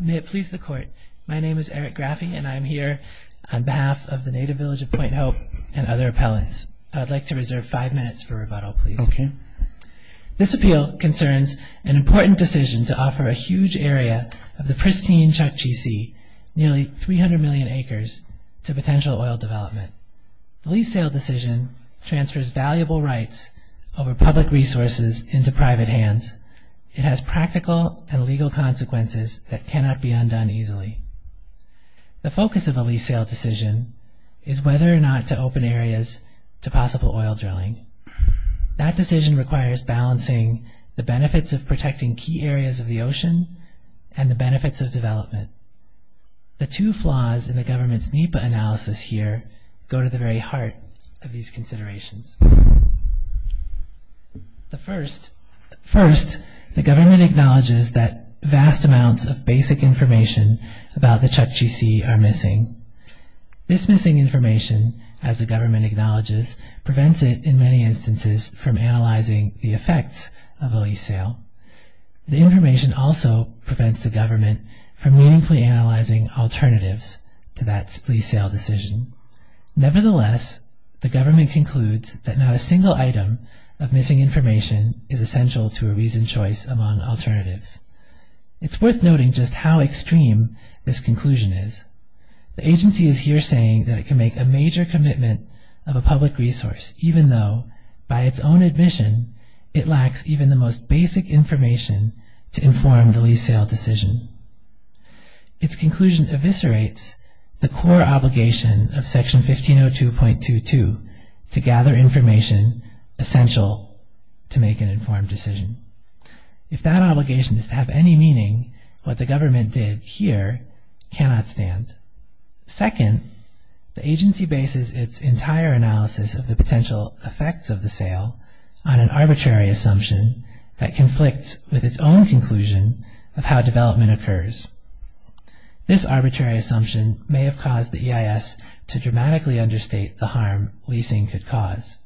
May it please the Court, my name is Eric Graffy and I am here on behalf of the Native Village of Point Hope and other appellants. I would like to reserve five minutes for rebuttal, please. This appeal concerns an important decision to offer a huge area of the pristine Chukchi Sea, nearly 300 million acres, to potential oil development. The lease sale decision transfers valuable rights over public resources into private hands. It has practical and legal consequences that cannot be undone easily. The focus of a lease sale decision is whether or not to open areas to possible oil drilling. That decision requires balancing the benefits of protecting key areas of the ocean and the benefits of development. The two flaws in the government's NEPA analysis here go to the very heart of these considerations. First, the government acknowledges that vast amounts of basic information about the Chukchi Sea are missing. This missing information, as the government acknowledges, prevents it, in many instances, from analyzing the effects of a lease sale. The information also prevents the government from meaningfully analyzing alternatives to that lease sale decision. Nevertheless, the government concludes that not a single item of missing information is essential to a reasoned choice among alternatives. It's worth noting just how extreme this conclusion is. The agency is here saying that it can make a major commitment of a public resource, even though, by its own admission, it lacks even the most basic information to inform the lease sale decision. Its conclusion eviscerates the core obligation of Section 1502.22 to gather information essential to make an informed decision. If that obligation is to have any meaning, what the government did here cannot stand. Second, the agency bases its entire analysis of the potential effects of the sale on an arbitrary assumption that conflicts with its own conclusion of how development occurs. This arbitrary assumption may have caused the EIS to dramatically understate the harm leasing could cause.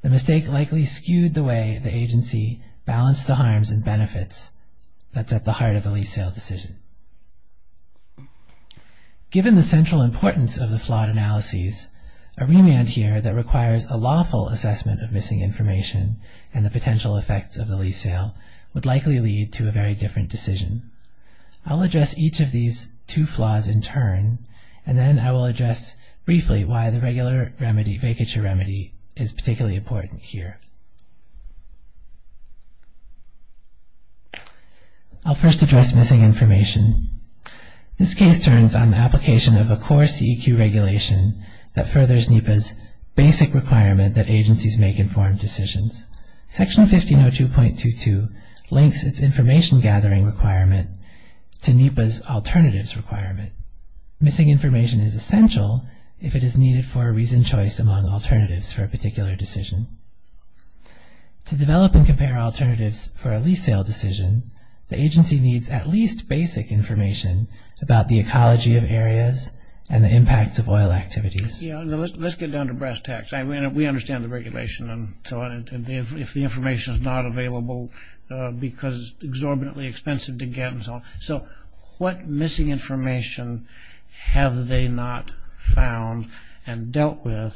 The mistake likely skewed the way the agency balanced the harms and benefits that set the heart of the lease sale decision. Given the central importance of the flawed analyses, a remand here that requires a lawful assessment of missing information and the potential effects of the lease sale would likely lead to a very different decision. I'll address each of these two flaws in turn, and then I will address briefly why the regular vacature remedy is particularly important here. I'll first address missing information. This case turns on the application of a core CEQ regulation that furthers NEPA's basic requirement that agencies make informed decisions. Section 1502.22 links its information gathering requirement to NEPA's alternatives requirement. Missing information is essential if it is needed for a reasoned choice among alternatives for a particular decision. To develop and compare alternatives for a lease sale decision, the agency needs at least basic information about the ecology of areas and the impacts of oil activities. Let's get down to brass tacks. We understand the regulation and so on. If the information is not available because it's exorbitantly expensive to get and so on. So what missing information have they not found and dealt with,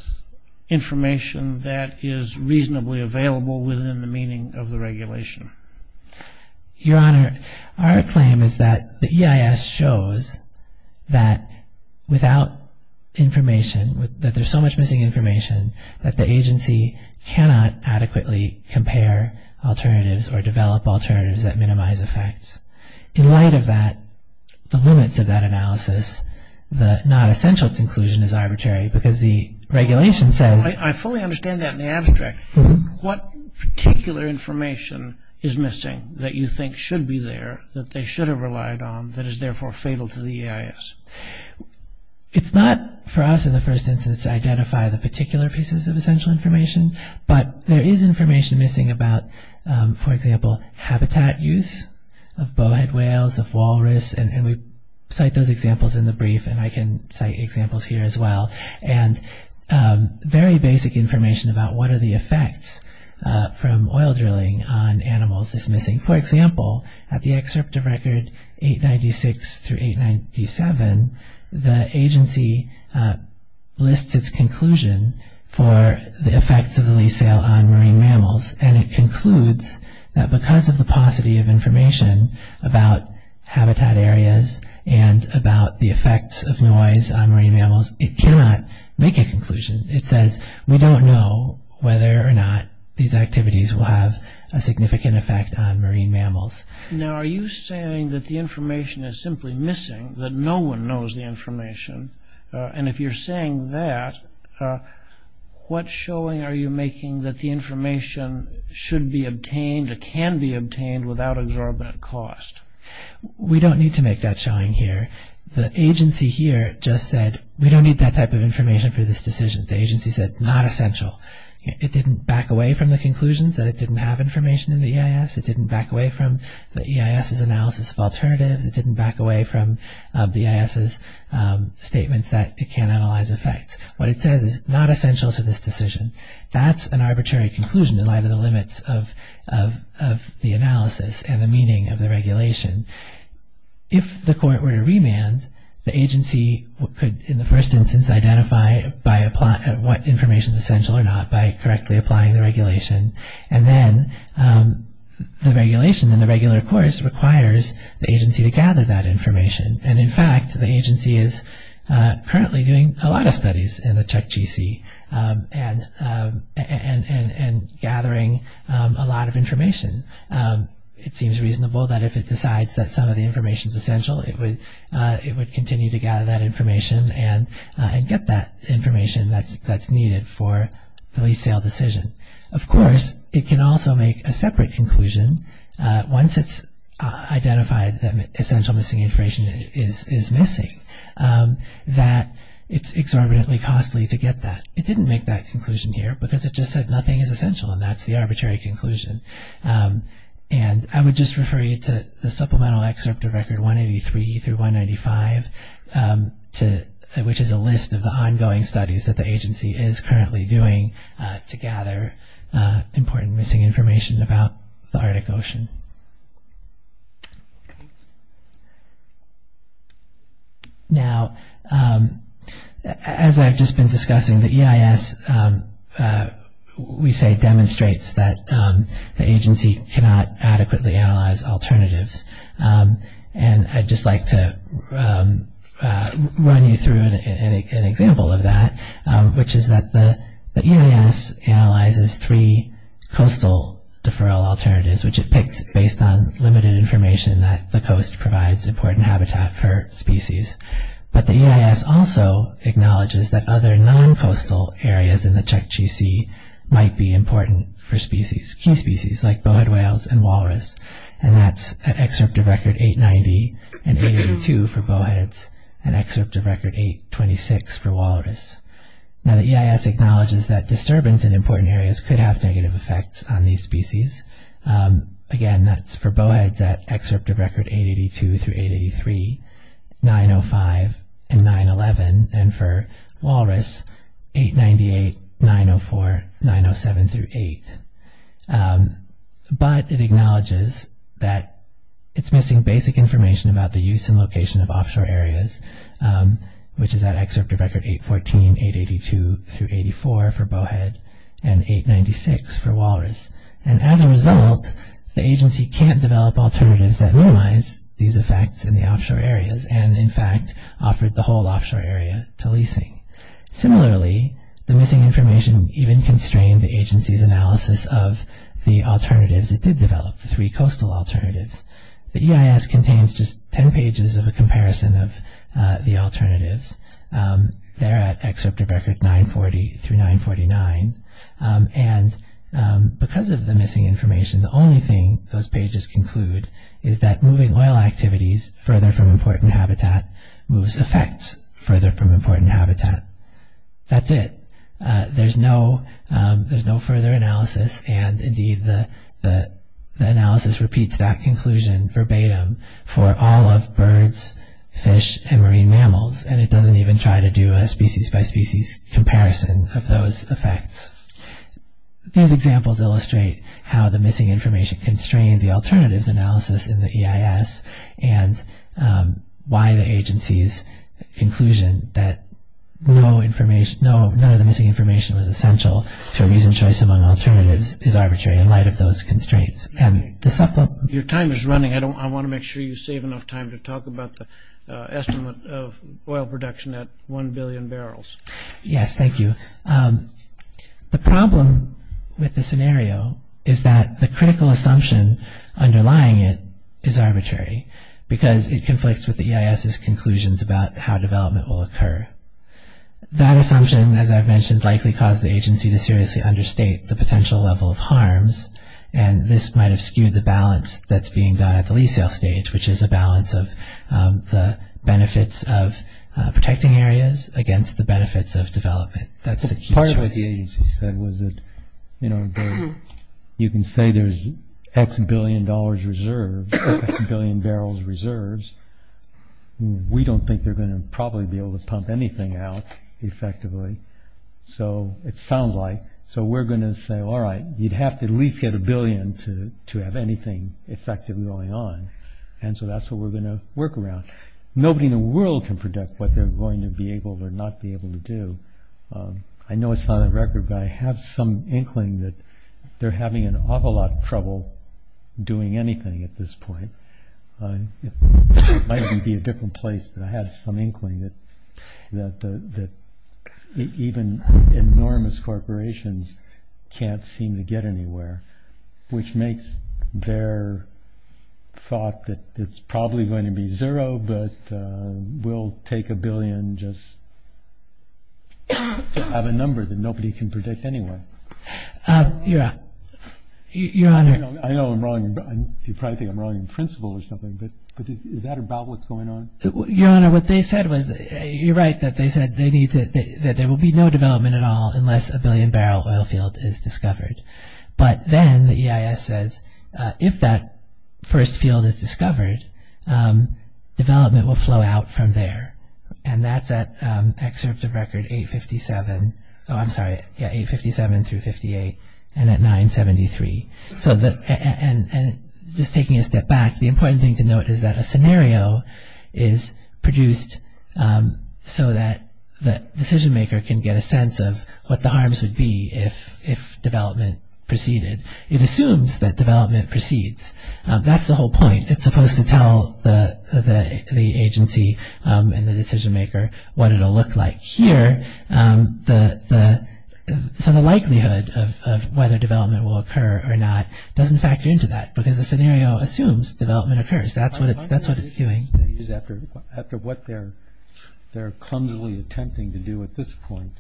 information that is reasonably available within the meaning of the regulation? Your Honor, our claim is that the EIS shows that without information, that there's so much missing information, that the agency cannot adequately compare alternatives or develop alternatives that minimize effects. In light of that, the limits of that analysis, the not essential conclusion is arbitrary because the regulation says I fully understand that in the abstract. What particular information is missing that you think should be there, that they should have relied on, that is therefore fatal to the EIS? It's not for us in the first instance to identify the particular pieces of essential information, but there is information missing about, for example, habitat use of bowhead whales, of walrus, and we cite those examples in the brief and I can cite examples here as well. And very basic information about what are the effects from oil drilling on animals is missing. For example, at the excerpt of record 896 through 897, the agency lists its conclusion for the effects of the lease sale on marine mammals and it concludes that because of the paucity of information about habitat areas and about the effects of noise on marine mammals, it cannot make a conclusion. It says we don't know whether or not these activities will have a significant effect on marine mammals. Now are you saying that the information is simply missing, that no one knows the information, and if you're saying that, what showing are you making that the information should be obtained or can be obtained without exorbitant cost? We don't need to make that showing here. The agency here just said we don't need that type of information for this decision. The agency said not essential. It didn't back away from the conclusions that it didn't have information in the EIS. It didn't back away from the EIS's analysis of alternatives. It didn't back away from the EIS's statements that it can't analyze effects. What it says is not essential to this decision. That's an arbitrary conclusion in light of the limits of the analysis and the meaning of the regulation. If the court were to remand, the agency could, in the first instance, identify what information is essential or not by correctly applying the regulation. And then the regulation in the regular course requires the agency to gather that information. And, in fact, the agency is currently doing a lot of studies in the CHECGC and gathering a lot of information. It seems reasonable that if it decides that some of the information is essential, it would continue to gather that information and get that information that's needed for the lease sale decision. Of course, it can also make a separate conclusion, once it's identified that essential missing information is missing, that it's exorbitantly costly to get that. It didn't make that conclusion here because it just said nothing is essential, and that's the arbitrary conclusion. And I would just refer you to the supplemental excerpt of Record 183 through 195, which is a list of the ongoing studies that the agency is currently doing to gather important missing information about the Arctic Ocean. Now, as I've just been discussing, the EIS, we say, demonstrates that the agency cannot adequately analyze alternatives. And I'd just like to run you through an example of that, which is that the EIS analyzes three coastal deferral alternatives, which it picks based on limited information that the coast provides important habitat for species. But the EIS also acknowledges that other non-coastal areas in the Chukchi Sea might be important for species, key species, like bowhead whales and walrus. And that's an excerpt of Record 890 and 882 for bowheads, an excerpt of Record 826 for walrus. Now, the EIS acknowledges that disturbance in important areas could have negative effects on these species. Again, that's for bowheads at excerpts of Record 882 through 883, 905, and 911, and for walrus, 898, 904, 907 through 8. But it acknowledges that it's missing basic information about the use and location of offshore areas, which is that excerpt of Record 814, 882 through 84 for bowhead, and 896 for walrus. And as a result, the agency can't develop alternatives that minimize these effects in the offshore areas and, in fact, offered the whole offshore area to leasing. Similarly, the missing information even constrained the agency's analysis of the alternatives it did develop, the three coastal alternatives. The EIS contains just 10 pages of a comparison of the alternatives. They're at excerpt of Record 940 through 949. And because of the missing information, the only thing those pages conclude is that moving oil activities further from important habitat moves effects further from important habitat. That's it. There's no further analysis, and, indeed, the analysis repeats that conclusion verbatim for all of birds, fish, and marine mammals, and it doesn't even try to do a species-by-species comparison of those effects. These examples illustrate how the missing information constrained the alternatives analysis in the EIS and why the agency's conclusion that none of the missing information was essential to a reasoned choice among alternatives is arbitrary in light of those constraints. Your time is running. I want to make sure you save enough time to talk about the estimate of oil production at 1 billion barrels. Yes, thank you. The problem with the scenario is that the critical assumption underlying it is arbitrary because it conflicts with the EIS's conclusions about how development will occur. That assumption, as I've mentioned, likely caused the agency to seriously understate the potential level of harms, and this might have skewed the balance that's being done at the resale stage, which is a balance of the benefits of protecting areas against the benefits of development. That's the key choice. Part of what the agency said was that, you know, you can say there's X billion dollars reserved, X billion barrels reserved. We don't think they're going to probably be able to pump anything out effectively. So it sounds like, so we're going to say, all right, you'd have to at least get a billion to have anything effectively going on, and so that's what we're going to work around. Nobody in the world can predict what they're going to be able or not be able to do. I know it's not on the record, but I have some inkling that they're having an awful lot of trouble doing anything at this point. It might even be a different place, but I have some inkling that even enormous corporations can't seem to get anywhere, which makes their thought that it's probably going to be zero, but we'll take a billion just to have a number that nobody can predict anyway. Your Honor. I know I'm wrong. You probably think I'm wrong in principle or something, but is that about what's going on? Your Honor, what they said was, you're right, that they said that there will be no development at all unless a billion-barrel oil field is discovered. But then the EIS says, if that first field is discovered, development will flow out from there, and that's at Excerpt of Record 857 through 58 and at 973. Just taking a step back, the important thing to note is that a scenario is produced so that the decision-maker can get a sense of what the harms would be if development proceeded. It assumes that development proceeds. That's the whole point. It's supposed to tell the agency and the decision-maker what it will look like. Here, the likelihood of whether development will occur or not doesn't factor into that because the scenario assumes development occurs. That's what it's doing. After what they're clumsily attempting to do at this point,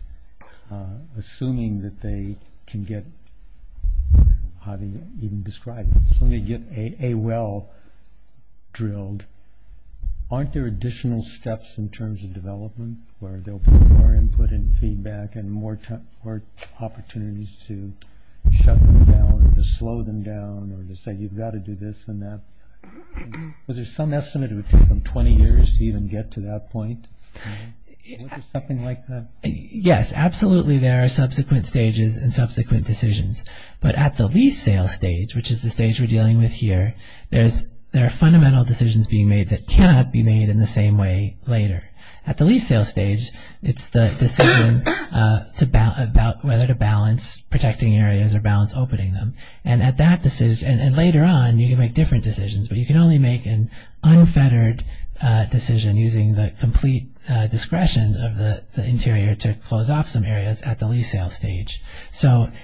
assuming that they can get a well drilled, aren't there additional steps in terms of development where they'll put more input and feedback and more opportunities to shut them down or to slow them down or to say you've got to do this and that? Was there some estimate it would take them 20 years to even get to that point? Something like that? Yes, absolutely there are subsequent stages and subsequent decisions. But at the lease sale stage, which is the stage we're dealing with here, there are fundamental decisions being made that cannot be made in the same way later. At the lease sale stage, it's the decision about whether to balance protecting areas or balance opening them. Later on, you can make different decisions, but you can only make an unfettered decision using the complete discretion of the interior to close off some areas at the lease sale stage.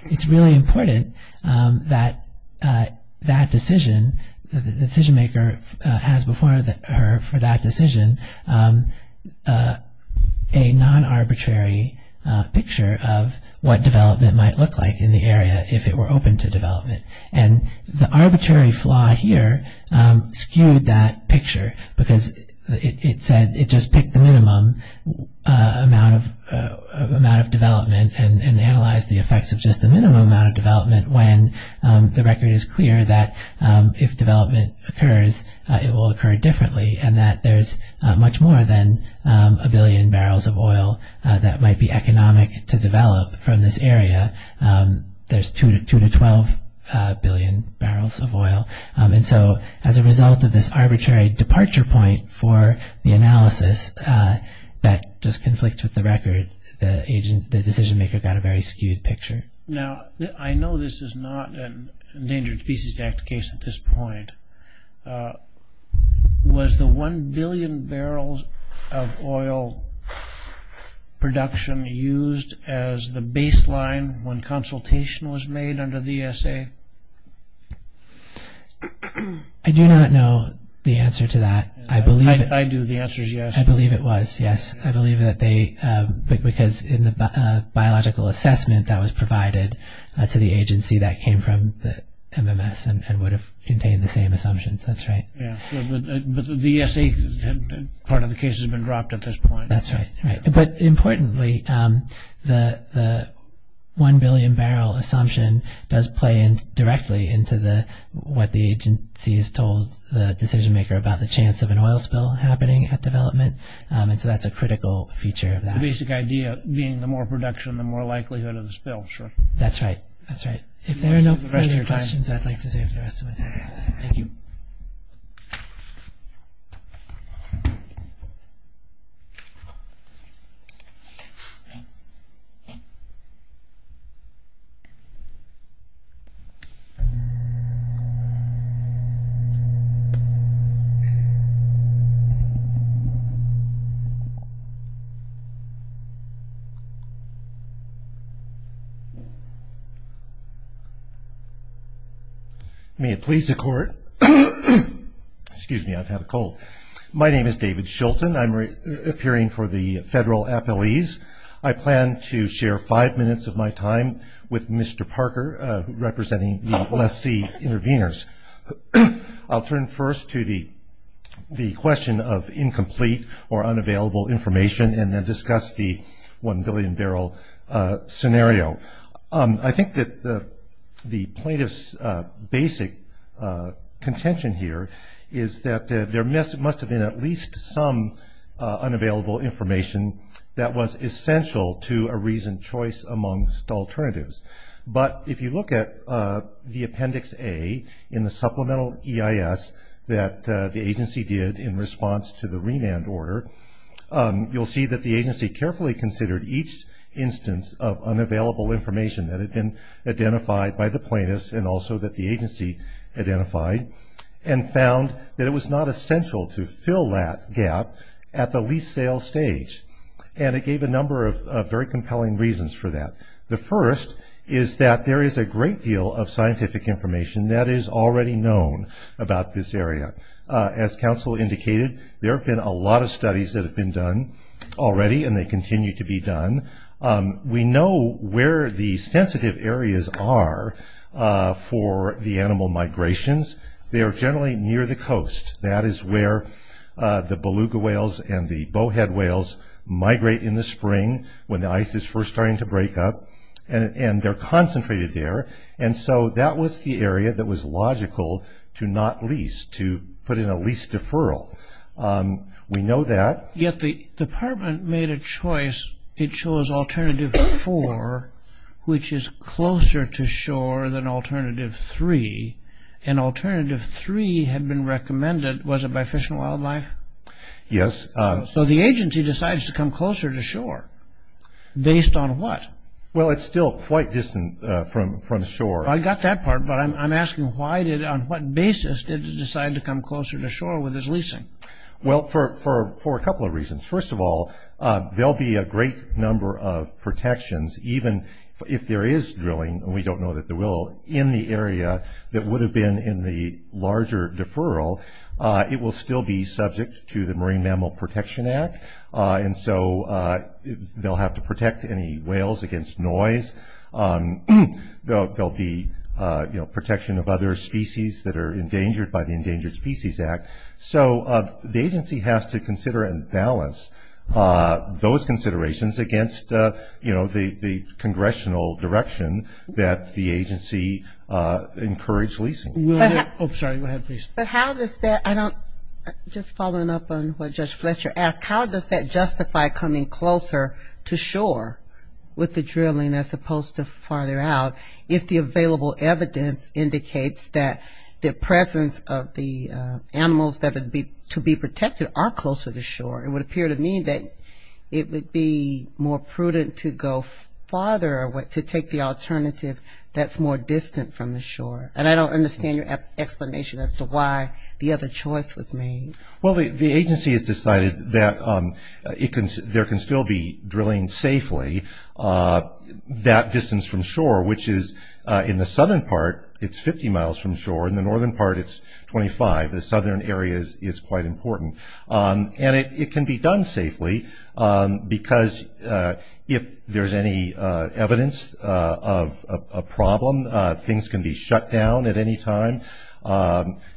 It's really important that that decision, the decision-maker has before her for that decision a non-arbitrary picture of what development might look like in the area if it were open to development. And the arbitrary flaw here skewed that picture because it said it just picked the minimum amount of development and analyzed the effects of just the minimum amount of development when the record is clear that if development occurs, it will occur differently and that there's much more than a billion barrels of oil that might be economic to develop from this area. There's 2 to 12 billion barrels of oil. And so as a result of this arbitrary departure point for the analysis that just conflicts with the record, the decision-maker got a very skewed picture. Now, I know this is not an Endangered Species Act case at this point. Was the 1 billion barrels of oil production used as the baseline when consultation was made under the ESA? I do not know the answer to that. I do, the answer is yes. I believe it was, yes. I believe that they, because in the biological assessment that was provided to the agency that came from the MMS and would have contained the same assumptions. That's right. But the ESA part of the case has been dropped at this point. That's right. But importantly, the 1 billion barrel assumption does play directly into what the agency has told the decision-maker about the chance of an oil spill happening at development. And so that's a critical feature of that. The basic idea being the more production, the more likelihood of the spill, sure. That's right, that's right. If there are no further questions, I'd like to save the rest of my time. Thank you. May it please the Court. Excuse me, I've had a cold. My name is David Shulton. I'm appearing for the federal appellees. I plan to share five minutes of my time with Mr. Parker, representing the lessee interveners. I'll turn first to the question of incomplete or unavailable information and then discuss the 1 billion barrel scenario. I think that the plaintiff's basic contention here is that there must have been at least some unavailable information that was essential to a reasoned choice amongst alternatives. But if you look at the Appendix A in the supplemental EIS that the agency did in response to the remand order, you'll see that the agency carefully considered each instance of unavailable information that had been identified by the plaintiffs and also that the agency identified and found that it was not essential to fill that gap at the lease sale stage. And it gave a number of very compelling reasons for that. The first is that there is a great deal of scientific information that is already known about this area. As counsel indicated, there have been a lot of studies that have been done already and they continue to be done. We know where the sensitive areas are for the animal migrations. They are generally near the coast. That is where the beluga whales and the bowhead whales migrate in the spring when the ice is first starting to break up, and they're concentrated there. And so that was the area that was logical to not lease, to put in a lease deferral. We know that. Yet the department made a choice. It chose Alternative 4, which is closer to shore than Alternative 3. And Alternative 3 had been recommended, was it by Fish and Wildlife? Yes. So the agency decides to come closer to shore. Based on what? Well, it's still quite distant from shore. I got that part, but I'm asking on what basis did it decide to come closer to shore with its leasing? Well, for a couple of reasons. First of all, there will be a great number of protections. Even if there is drilling, and we don't know that there will, in the area that would have been in the larger deferral, it will still be subject to the Marine Mammal Protection Act. And so they'll have to protect any whales against noise. There will be protection of other species that are endangered by the Endangered Species Act. So the agency has to consider and balance those considerations against, you know, the congressional direction that the agency encouraged leasing. Oh, sorry. Go ahead, please. Just following up on what Judge Fletcher asked, how does that justify coming closer to shore with the drilling as opposed to farther out, if the available evidence indicates that the presence of the animals to be protected are closer to shore? It would appear to me that it would be more prudent to go farther, to take the alternative that's more distant from the shore. And I don't understand your explanation as to why the other choice was made. Well, the agency has decided that there can still be drilling safely that distance from shore, which is in the southern part, it's 50 miles from shore. In the northern part, it's 25. The southern area is quite important. And it can be done safely because if there's any evidence of a problem, things can be shut down at any time.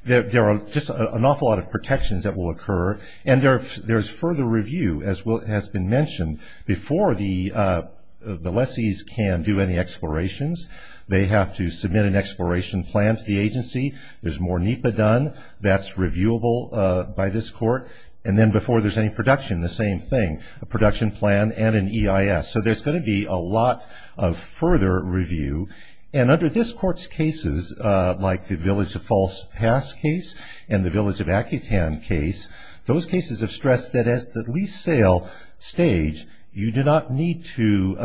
There are just an awful lot of protections that will occur. And there's further review, as has been mentioned, before the lessees can do any explorations. They have to submit an exploration plan to the agency. There's more NEPA done. That's reviewable by this court. And then before there's any production, the same thing, a production plan and an EIS. So there's going to be a lot of further review. And under this court's cases, like the Village of False Pass case and the Village of Accutan case, those cases have stressed that at the lease sale stage, you do not need to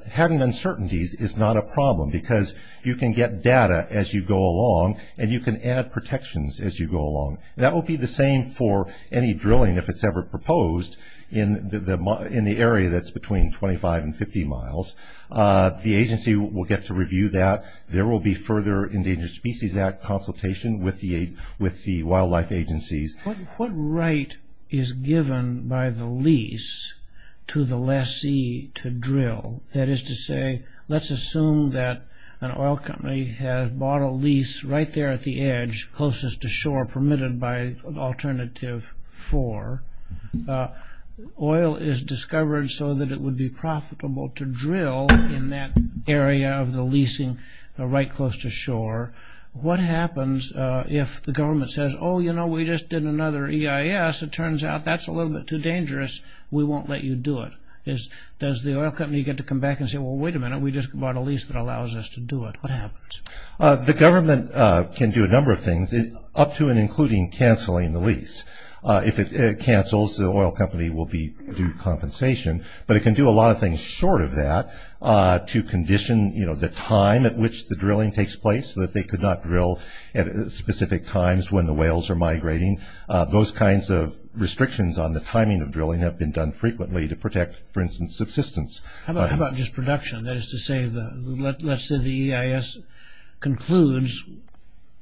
– having uncertainties is not a problem because you can get data as you go along, and you can add protections as you go along. That will be the same for any drilling, if it's ever proposed, in the area that's between 25 and 50 miles. The agency will get to review that. There will be further Endangered Species Act consultation with the wildlife agencies. What right is given by the lease to the lessee to drill? That is to say, let's assume that an oil company has bought a lease right there at the edge, closest to shore, permitted by Alternative 4. Oil is discovered so that it would be profitable to drill in that area of the leasing right close to shore. What happens if the government says, oh, you know, we just did another EIS. It turns out that's a little bit too dangerous. We won't let you do it. Does the oil company get to come back and say, well, wait a minute, we just bought a lease that allows us to do it? What happens? The government can do a number of things, up to and including canceling the lease. If it cancels, the oil company will be due compensation. But it can do a lot of things short of that to condition the time at which the drilling takes place so that they could not drill at specific times when the whales are migrating. Those kinds of restrictions on the timing of drilling have been done frequently to protect, for instance, subsistence. How about just production? That is to say, let's say the EIS concludes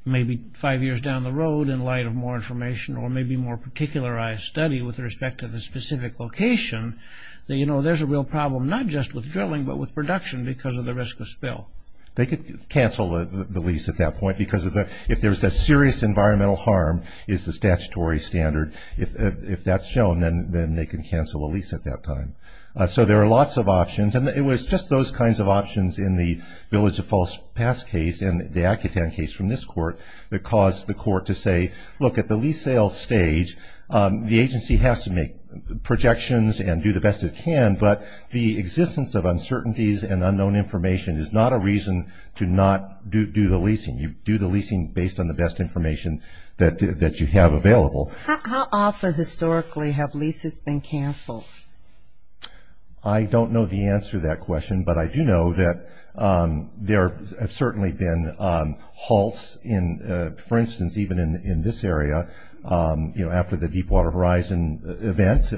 maybe five years down the road in light of more information or maybe more particularized study with respect to the specific location, that, you know, there's a real problem not just with drilling but with production because of the risk of spill. They could cancel the lease at that point because if there's a serious environmental harm is the statutory standard. If that's shown, then they can cancel a lease at that time. So there are lots of options. And it was just those kinds of options in the Village of False Paths case and the Accutan case from this court that caused the court to say, look, at the lease sale stage, the agency has to make projections and do the best it can, but the existence of uncertainties and unknown information is not a reason to not do the leasing. You do the leasing based on the best information that you have available. How often historically have leases been canceled? I don't know the answer to that question, but I do know that there have certainly been halts in, for instance, even in this area. You know, after the Deepwater Horizon event,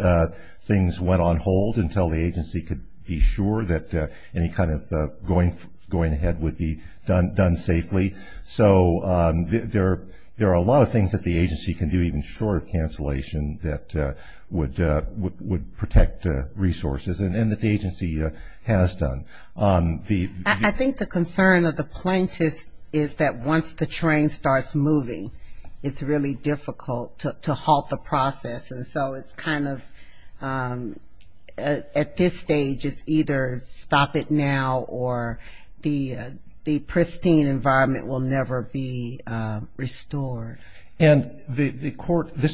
things went on hold until the agency could be sure that any kind of going ahead would be done safely. So there are a lot of things that the agency can do even short of cancellation that would protect resources and that the agency has done. I think the concern of the plaintiffs is that once the train starts moving, it's really difficult to halt the process. And so it's kind of, at this stage, it's either stop it now or the pristine environment will never be restored. And this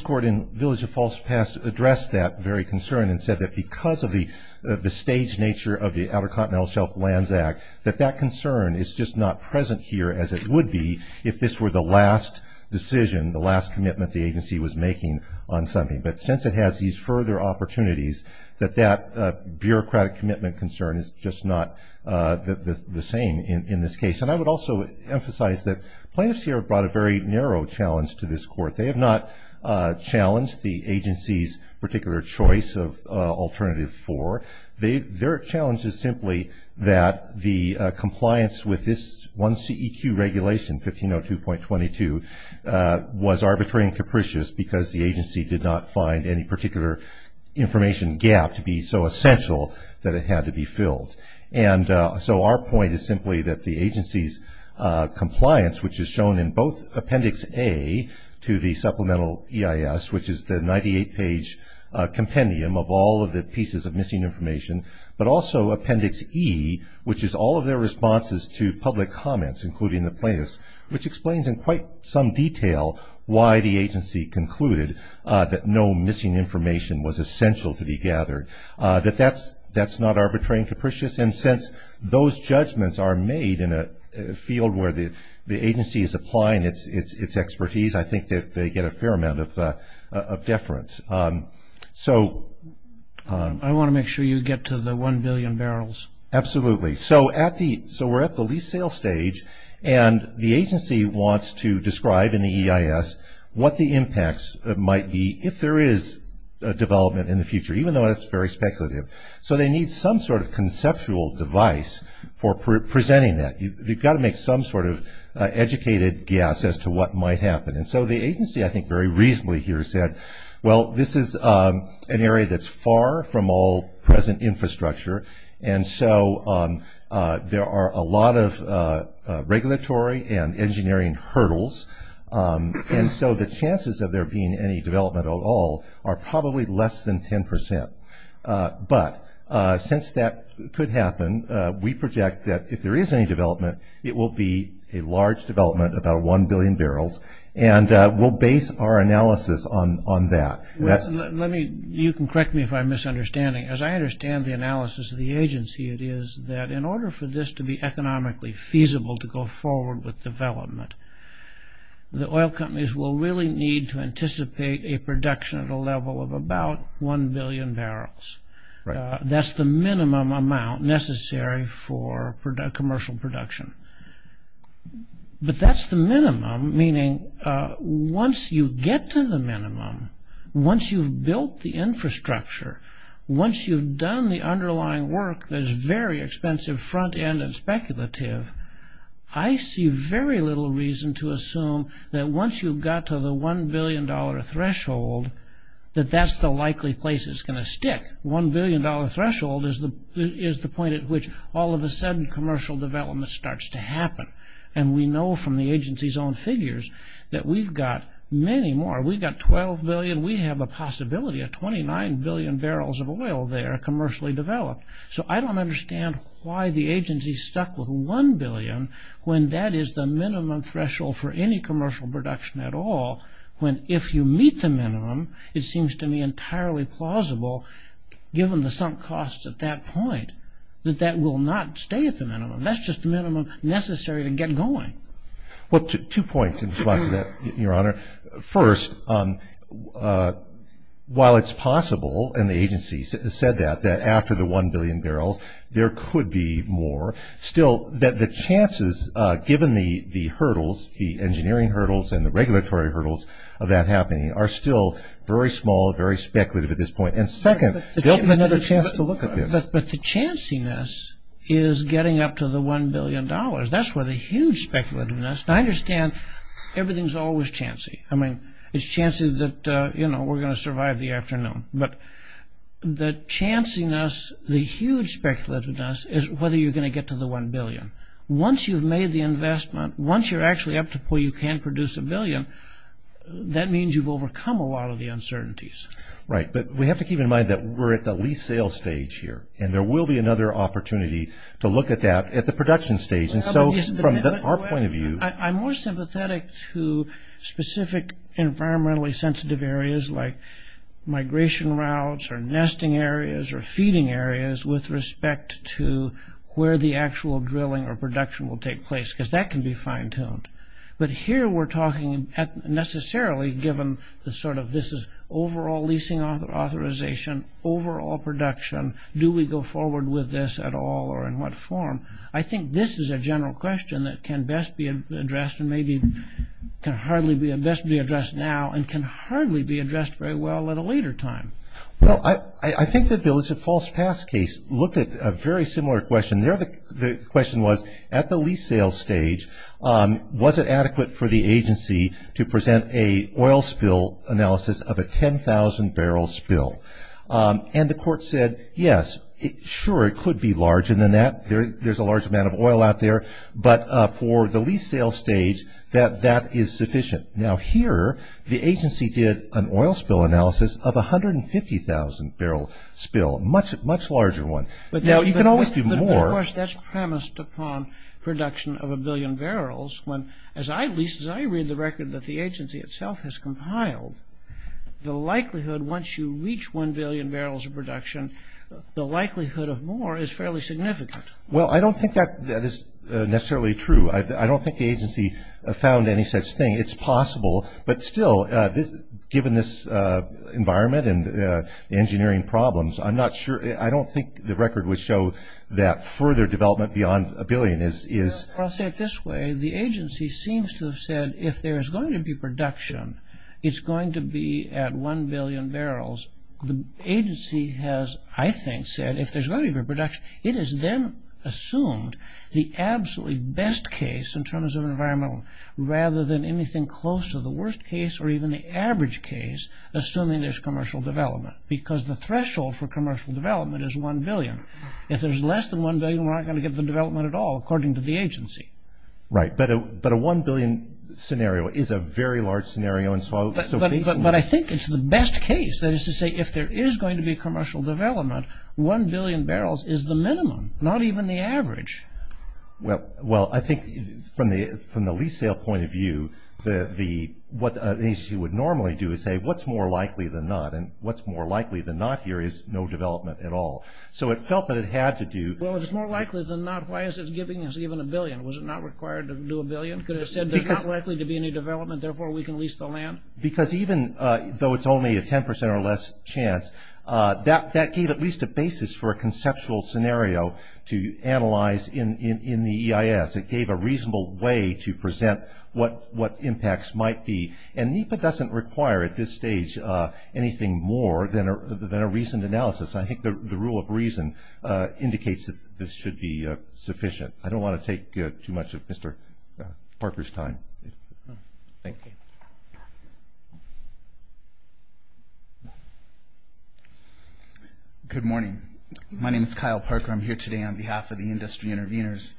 court in Village of False Past addressed that very concern and said that because of the staged nature of the Outer Continental Shelf Lands Act, that that concern is just not present here as it would be if this were the last decision, the last commitment the agency was making on something. But since it has these further opportunities, that that bureaucratic commitment concern is just not the same in this case. And I would also emphasize that plaintiffs here have brought a very narrow challenge to this court. They have not challenged the agency's particular choice of alternative four. Their challenge is simply that the compliance with this one CEQ regulation, 1502.22, was arbitrary and capricious because the agency did not find any particular information gap to be so essential that it had to be filled. And so our point is simply that the agency's compliance, which is shown in both Appendix A to the Supplemental EIS, which is the 98-page compendium of all of the pieces of missing information, but also Appendix E, which is all of their responses to public comments, including the plaintiffs, which explains in quite some detail why the agency concluded that no missing information was essential to be gathered, that that's not arbitrary and capricious. And since those judgments are made in a field where the agency is applying its expertise, I think that they get a fair amount of deference. So... I want to make sure you get to the one billion barrels. Absolutely. So we're at the lease sale stage, and the agency wants to describe in the EIS what the impacts might be if there is a development in the future, even though that's very speculative. So they need some sort of conceptual device for presenting that. You've got to make some sort of educated guess as to what might happen. And so the agency, I think, very reasonably here said, well, this is an area that's far from all present infrastructure, and so there are a lot of regulatory and engineering hurdles, and so the chances of there being any development at all are probably less than 10%. But since that could happen, we project that if there is any development, it will be a large development, about one billion barrels, and we'll base our analysis on that. You can correct me if I'm misunderstanding. As I understand the analysis of the agency, it is that in order for this to be economically feasible to go forward with development, the oil companies will really need to anticipate a production at a level of about one billion barrels. That's the minimum amount necessary for commercial production. But that's the minimum, meaning once you get to the minimum, once you've built the infrastructure, once you've done the underlying work that is very expensive, front-end and speculative, I see very little reason to assume that once you've got to the one billion dollar threshold, that that's the likely place it's going to stick. One billion dollar threshold is the point at which all of a sudden commercial development starts to happen, and we know from the agency's own figures that we've got many more. We've got 12 billion. We have a possibility of 29 billion barrels of oil there commercially developed. So I don't understand why the agency stuck with one billion when that is the minimum threshold for any commercial production at all, when if you meet the minimum, it seems to me entirely plausible, given the sunk costs at that point, that that will not stay at the minimum. That's just the minimum necessary to get going. Well, two points in response to that, Your Honor. First, while it's possible, and the agency has said that, after the one billion barrels, there could be more, still that the chances, given the hurdles, the engineering hurdles and the regulatory hurdles of that happening, are still very small, very speculative at this point. And second, there'll be another chance to look at this. But the chanciness is getting up to the one billion dollars. That's where the huge speculativeness, and I understand everything's always chancy. I mean, it's chancy that, you know, we're going to survive the afternoon. But the chanciness, the huge speculativeness, is whether you're going to get to the one billion. Once you've made the investment, once you're actually up to where you can produce a billion, that means you've overcome a lot of the uncertainties. Right, but we have to keep in mind that we're at the lease-sale stage here, and there will be another opportunity to look at that at the production stage. And so from our point of view... I'm more sympathetic to specific environmentally sensitive areas like migration routes or nesting areas or feeding areas with respect to where the actual drilling or production will take place, because that can be fine-tuned. But here we're talking necessarily, given the sort of this is overall leasing authorization, overall production, do we go forward with this at all or in what form? I think this is a general question that can best be addressed and maybe can best be addressed now and can hardly be addressed very well at a later time. Well, I think the Village of Falls Pass case looked at a very similar question. The question was, at the lease-sale stage, was it adequate for the agency to present an oil spill analysis of a 10,000-barrel spill? And the court said, yes, sure, it could be large, and there's a large amount of oil out there. But for the lease-sale stage, that is sufficient. Now, here, the agency did an oil spill analysis of a 150,000-barrel spill, a much larger one. Now, you can always do more. But, of course, that's premised upon production of a billion barrels. As I lease, as I read the record that the agency itself has compiled, the likelihood, once you reach one billion barrels of production, the likelihood of more is fairly significant. Well, I don't think that is necessarily true. I don't think the agency found any such thing. It's possible. But still, given this environment and the engineering problems, I'm not sure – I don't think the record would show that further development beyond a billion is – Well, I'll say it this way. The agency seems to have said, if there's going to be production, it's going to be at one billion barrels. The agency has, I think, said, if there's going to be production, it has then assumed the absolutely best case in terms of environmental, rather than anything close to the worst case or even the average case, assuming there's commercial development, because the threshold for commercial development is one billion. If there's less than one billion, we're not going to get the development at all, according to the agency. Right. But a one billion scenario is a very large scenario. But I think it's the best case. That is to say, if there is going to be commercial development, one billion barrels is the minimum, not even the average. Well, I think from the lease sale point of view, what the agency would normally do is say, what's more likely than not? And what's more likely than not here is no development at all. So it felt that it had to do – Well, if it's more likely than not, why is it giving us even a billion? Was it not required to do a billion? Could it have said there's not likely to be any development, therefore we can lease the land? Because even though it's only a 10% or less chance, that gave at least a basis for a conceptual scenario to analyze in the EIS. It gave a reasonable way to present what impacts might be. And NEPA doesn't require at this stage anything more than a reasoned analysis. I think the rule of reason indicates that this should be sufficient. I don't want to take too much of Mr. Harper's time. Thank you. Good morning. My name is Kyle Parker. I'm here today on behalf of the industry interveners.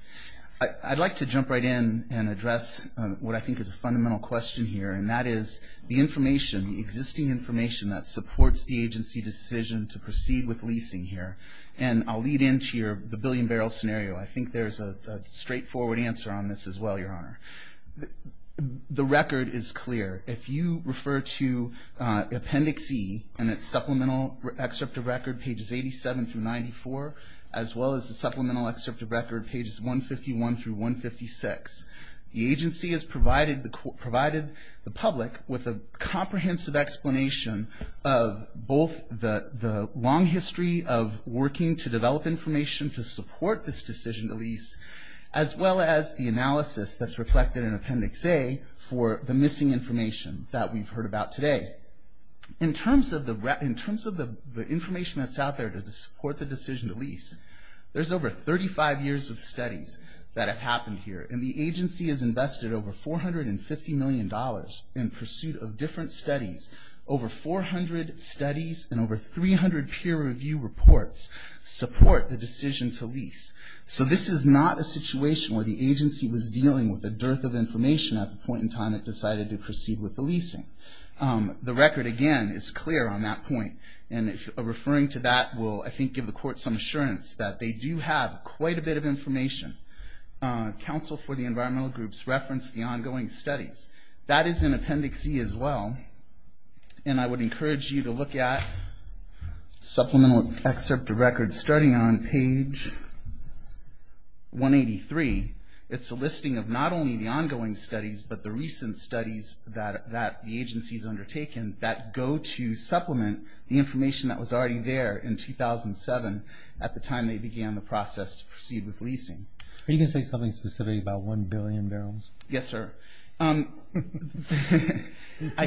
I'd like to jump right in and address what I think is a fundamental question here, and that is the information, the existing information, that supports the agency decision to proceed with leasing here. And I'll lead into the billion barrel scenario. I think there's a straightforward answer on this as well, Your Honor. The record is clear. If you refer to Appendix E in its supplemental excerpt of record, pages 87 through 94, as well as the supplemental excerpt of record, pages 151 through 156, the agency has provided the public with a comprehensive explanation of both the long history of working to develop information to support this decision to lease, as well as the analysis that's reflected in Appendix A for the missing information that we've heard about today. In terms of the information that's out there to support the decision to lease, there's over 35 years of studies that have happened here, and the agency has invested over $450 million in pursuit of different studies. Over 400 studies and over 300 peer review reports support the decision to lease. So this is not a situation where the agency was dealing with a dearth of information at the point in time it decided to proceed with the leasing. The record, again, is clear on that point, and referring to that will, I think, give the Court some assurance that they do have quite a bit of information. Counsel for the environmental groups referenced the ongoing studies. That is in Appendix E as well, and I would encourage you to look at supplemental excerpt of record starting on page 183. It's a listing of not only the ongoing studies but the recent studies that the agency has undertaken that go to supplement the information that was already there in 2007 at the time they began the process to proceed with leasing. Are you going to say something specific about 1 billion barrels? Yes, sir. I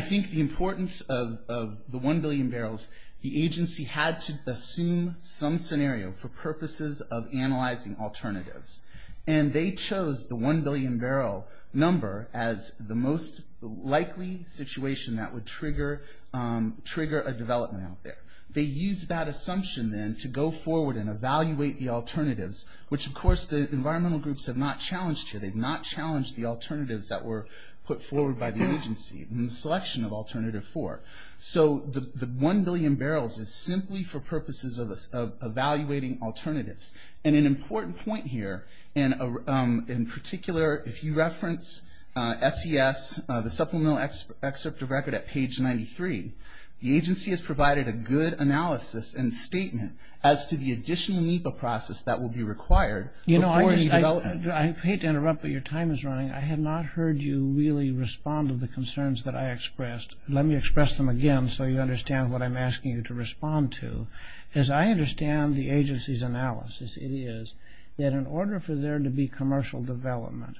think the importance of the 1 billion barrels, the agency had to assume some scenario for purposes of analyzing alternatives, and they chose the 1 billion barrel number as the most likely situation that would trigger a development out there. They used that assumption then to go forward and evaluate the alternatives, which, of course, the environmental groups have not challenged here. They've not challenged the alternatives that were put forward by the agency in the selection of Alternative 4. So the 1 billion barrels is simply for purposes of evaluating alternatives. And an important point here, in particular, if you reference SES, the supplemental excerpt of record at page 93, the agency has provided a good analysis and statement as to the additional NEPA process that will be required before its development. I hate to interrupt, but your time is running. I have not heard you really respond to the concerns that I expressed. Let me express them again so you understand what I'm asking you to respond to. As I understand the agency's analysis, it is that in order for there to be commercial development,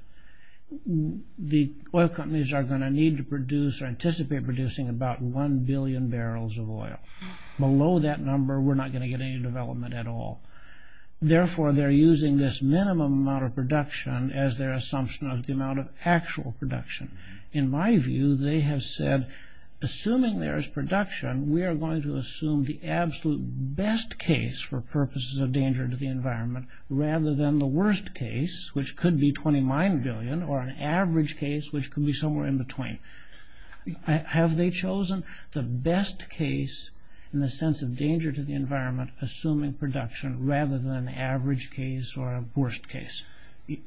the oil companies are going to need to produce or anticipate producing about 1 billion barrels of oil. Below that number, we're not going to get any development at all. Therefore, they're using this minimum amount of production as their assumption of the amount of actual production. In my view, they have said, assuming there is production, we are going to assume the absolute best case for purposes of danger to the environment rather than the worst case, which could be 29 billion, or an average case which could be somewhere in between. Have they chosen the best case in the sense of danger to the environment assuming production rather than an average case or a worst case?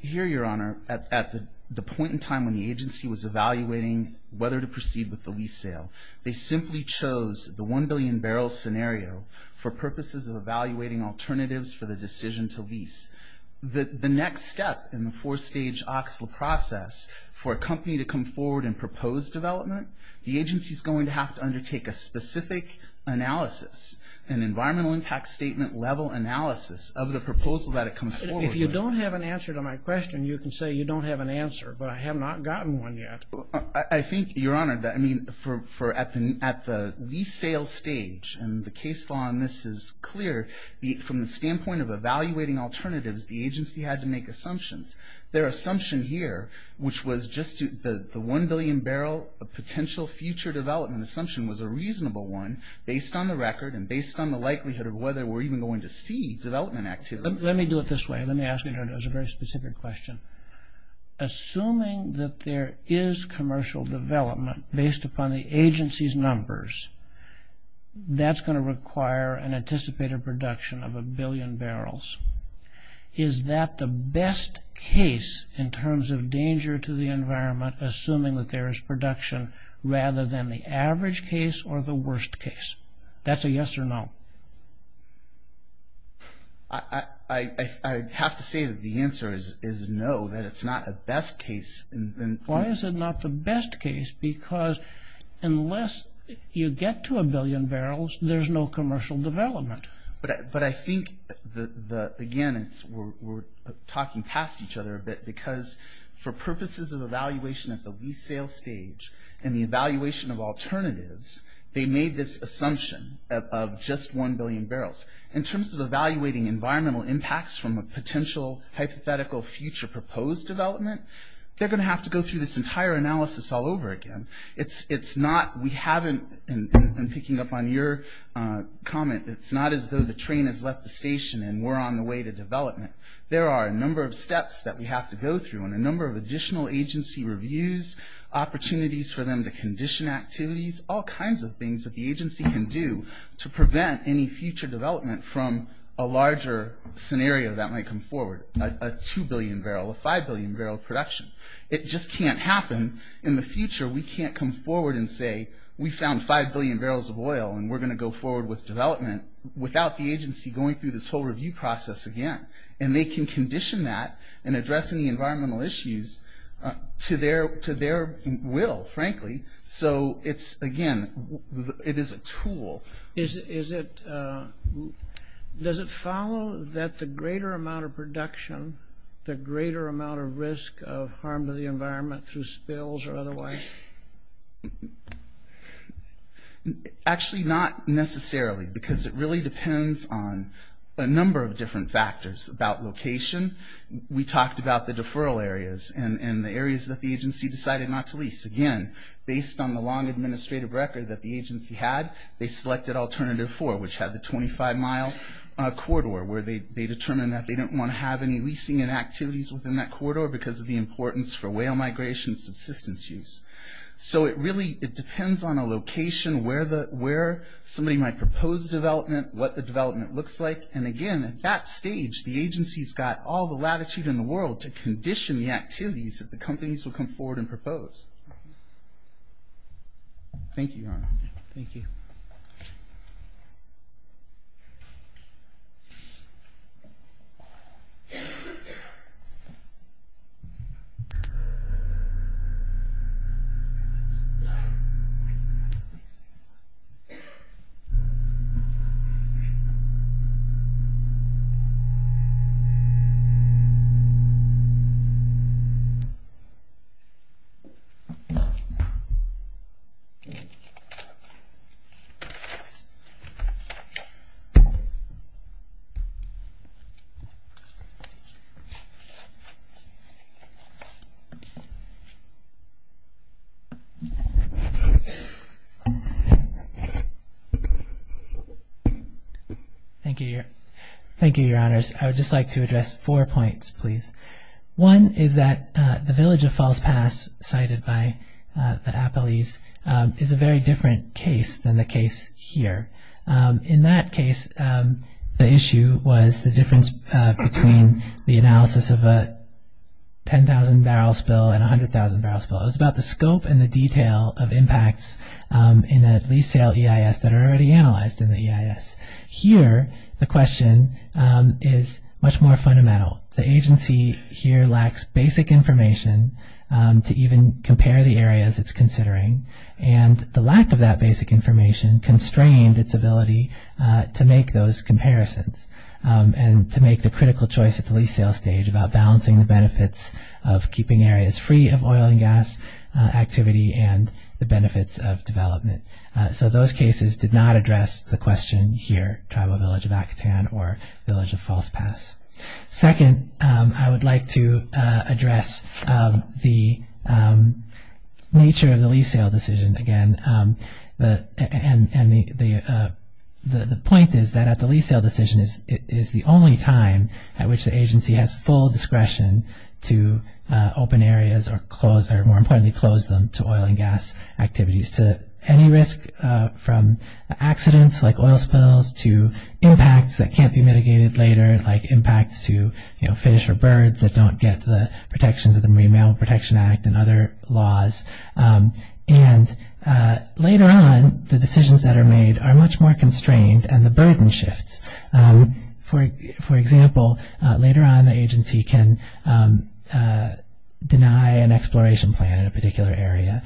Here, Your Honor, at the point in time when the agency was evaluating whether to proceed with the lease sale, they simply chose the 1 billion barrel scenario for purposes of evaluating alternatives for the decision to lease. The next step in the four-stage OXLA process for a company to come forward and propose development, the agency is going to have to undertake a specific analysis and environmental impact statement level analysis of the proposal that it comes forward with. If you don't have an answer to my question, you can say you don't have an answer, but I have not gotten one yet. I think, Your Honor, that at the lease sale stage, and the case law on this is clear, from the standpoint of evaluating alternatives, the agency had to make assumptions. Their assumption here, which was just the 1 billion barrel potential future development assumption was a reasonable one based on the record and based on the likelihood of whether we're even going to see development activities. Let me do it this way. Let me ask you, Your Honor, a very specific question. Assuming that there is commercial development based upon the agency's numbers, that's going to require an anticipated production of 1 billion barrels. Is that the best case in terms of danger to the environment assuming that there is production rather than the average case or the worst case? That's a yes or no. I'd have to say that the answer is no, that it's not a best case. Why is it not the best case? Because unless you get to a billion barrels, there's no commercial development. But I think, again, we're talking past each other a bit because for purposes of evaluation at the lease sale stage, and the evaluation of alternatives, they made this assumption of just 1 billion barrels. In terms of evaluating environmental impacts from a potential hypothetical future proposed development, they're going to have to go through this entire analysis all over again. It's not we haven't, and picking up on your comment, it's not as though the train has left the station and we're on the way to development. There are a number of steps that we have to go through and a number of additional agency reviews, opportunities for them to condition activities, all kinds of things that the agency can do to prevent any future development from a larger scenario that might come forward, a 2 billion barrel, a 5 billion barrel production. It just can't happen in the future. We can't come forward and say, we found 5 billion barrels of oil and we're going to go forward with development without the agency going through this whole review process again. And they can condition that in addressing the environmental issues to their will, frankly. So it's, again, it is a tool. Does it follow that the greater amount of production, the greater amount of risk of harm to the environment through spills or otherwise? Actually, not necessarily, because it really depends on a number of different factors. About location, we talked about the deferral areas and the areas that the agency decided not to lease. Again, based on the long administrative record that the agency had, they selected alternative 4, which had the 25-mile corridor, where they determined that they didn't want to have any leasing and activities within that corridor because of the importance for whale migration and subsistence use. So it really depends on a location where somebody might propose development, what the development looks like. And again, at that stage, the agency's got all the latitude in the world to condition the activities that the companies will come forward and propose. Thank you, Your Honor. Thank you. Thank you. Thank you. Thank you, Your Honors. I would just like to address four points, please. One is that the Village of Falls Pass, cited by the Appalese, is a very different case than the case here. In that case, the issue was the difference between the analysis of a 10,000-barrel spill and a 100,000-barrel spill. It was about the scope and the detail of impacts in a lease sale EIS that are already analyzed in the EIS. Here, the question is much more fundamental. The agency here lacks basic information to even compare the areas it's considering, and the lack of that basic information constrained its ability to make those comparisons and to make the critical choice at the lease sale stage about balancing the benefits of keeping areas free of oil and gas activity and the benefits of development. So those cases did not address the question here, Tribal Village of Occotan or Village of Falls Pass. Second, I would like to address the nature of the lease sale decision. Again, the point is that at the lease sale decision is the only time at which the agency has full discretion to open areas or, more importantly, close them to oil and gas activities, to any risk from accidents like oil spills to impacts that can't be mitigated later, like impacts to fish or birds that don't get the protections of the Marine Mammal Protection Act and other laws. And later on, the decisions that are made are much more constrained, and the burden shifts. For example, later on, the agency can deny an exploration plan in a particular area,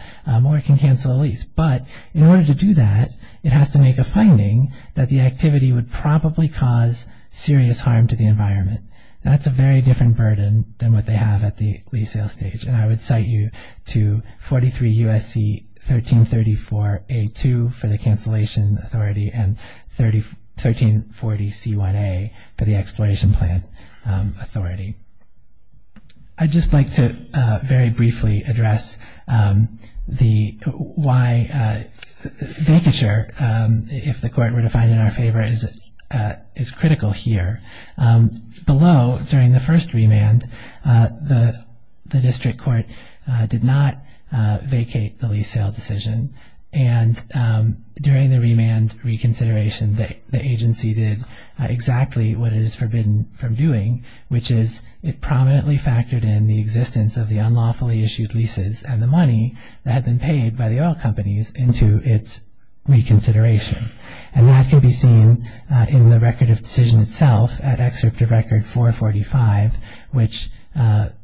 or it can cancel a lease. But in order to do that, it has to make a finding that the activity would probably cause serious harm to the environment. That's a very different burden than what they have at the lease sale stage. And I would cite you to 43 U.S.C. 1334-A-2 for the cancellation authority, and 1340-C-1-A for the exploration plan authority. I'd just like to very briefly address why vacature, if the court were to find it in our favor, is critical here. Below, during the first remand, the district court did not vacate the lease sale decision, and during the remand reconsideration, the agency did exactly what it is forbidden from doing, which is it prominently factored in the existence of the unlawfully issued leases and the money that had been paid by the oil companies into its reconsideration. And that can be seen in the record of decision itself at Excerpt of Record 445, which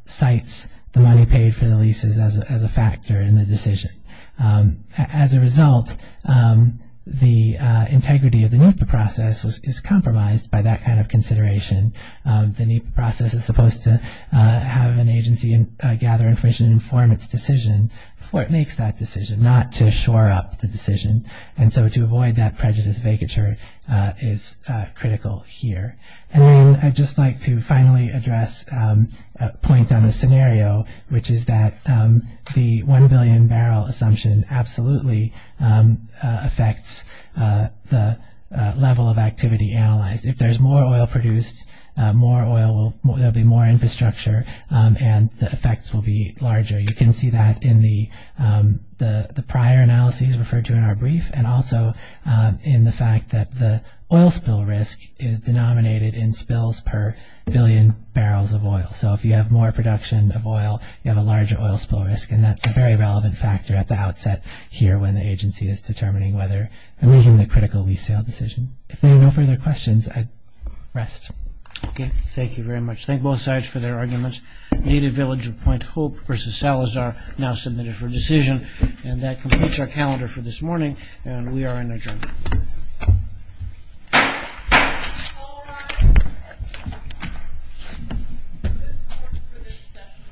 cites the money paid for the leases as a factor in the decision. As a result, the integrity of the NEPA process is compromised by that kind of consideration. The NEPA process is supposed to have an agency gather information and inform its decision before it makes that decision, not to shore up the decision. And so to avoid that prejudice, vacature is critical here. And then I'd just like to finally address a point on the scenario, which is that the 1 billion barrel assumption absolutely affects the level of activity analyzed. If there's more oil produced, there will be more infrastructure and the effects will be larger. You can see that in the prior analyses referred to in our brief and also in the fact that the oil spill risk is denominated in spills per billion barrels of oil. So if you have more production of oil, you have a larger oil spill risk, and that's a very relevant factor at the outset here when the agency is determining whether and making the critical lease sale decision. If there are no further questions, I rest. Okay, thank you very much. Thank both sides for their arguments. Native Village of Point Hope versus Salazar now submitted for decision. And that completes our calendar for this morning, and we are in adjournment. Thank you.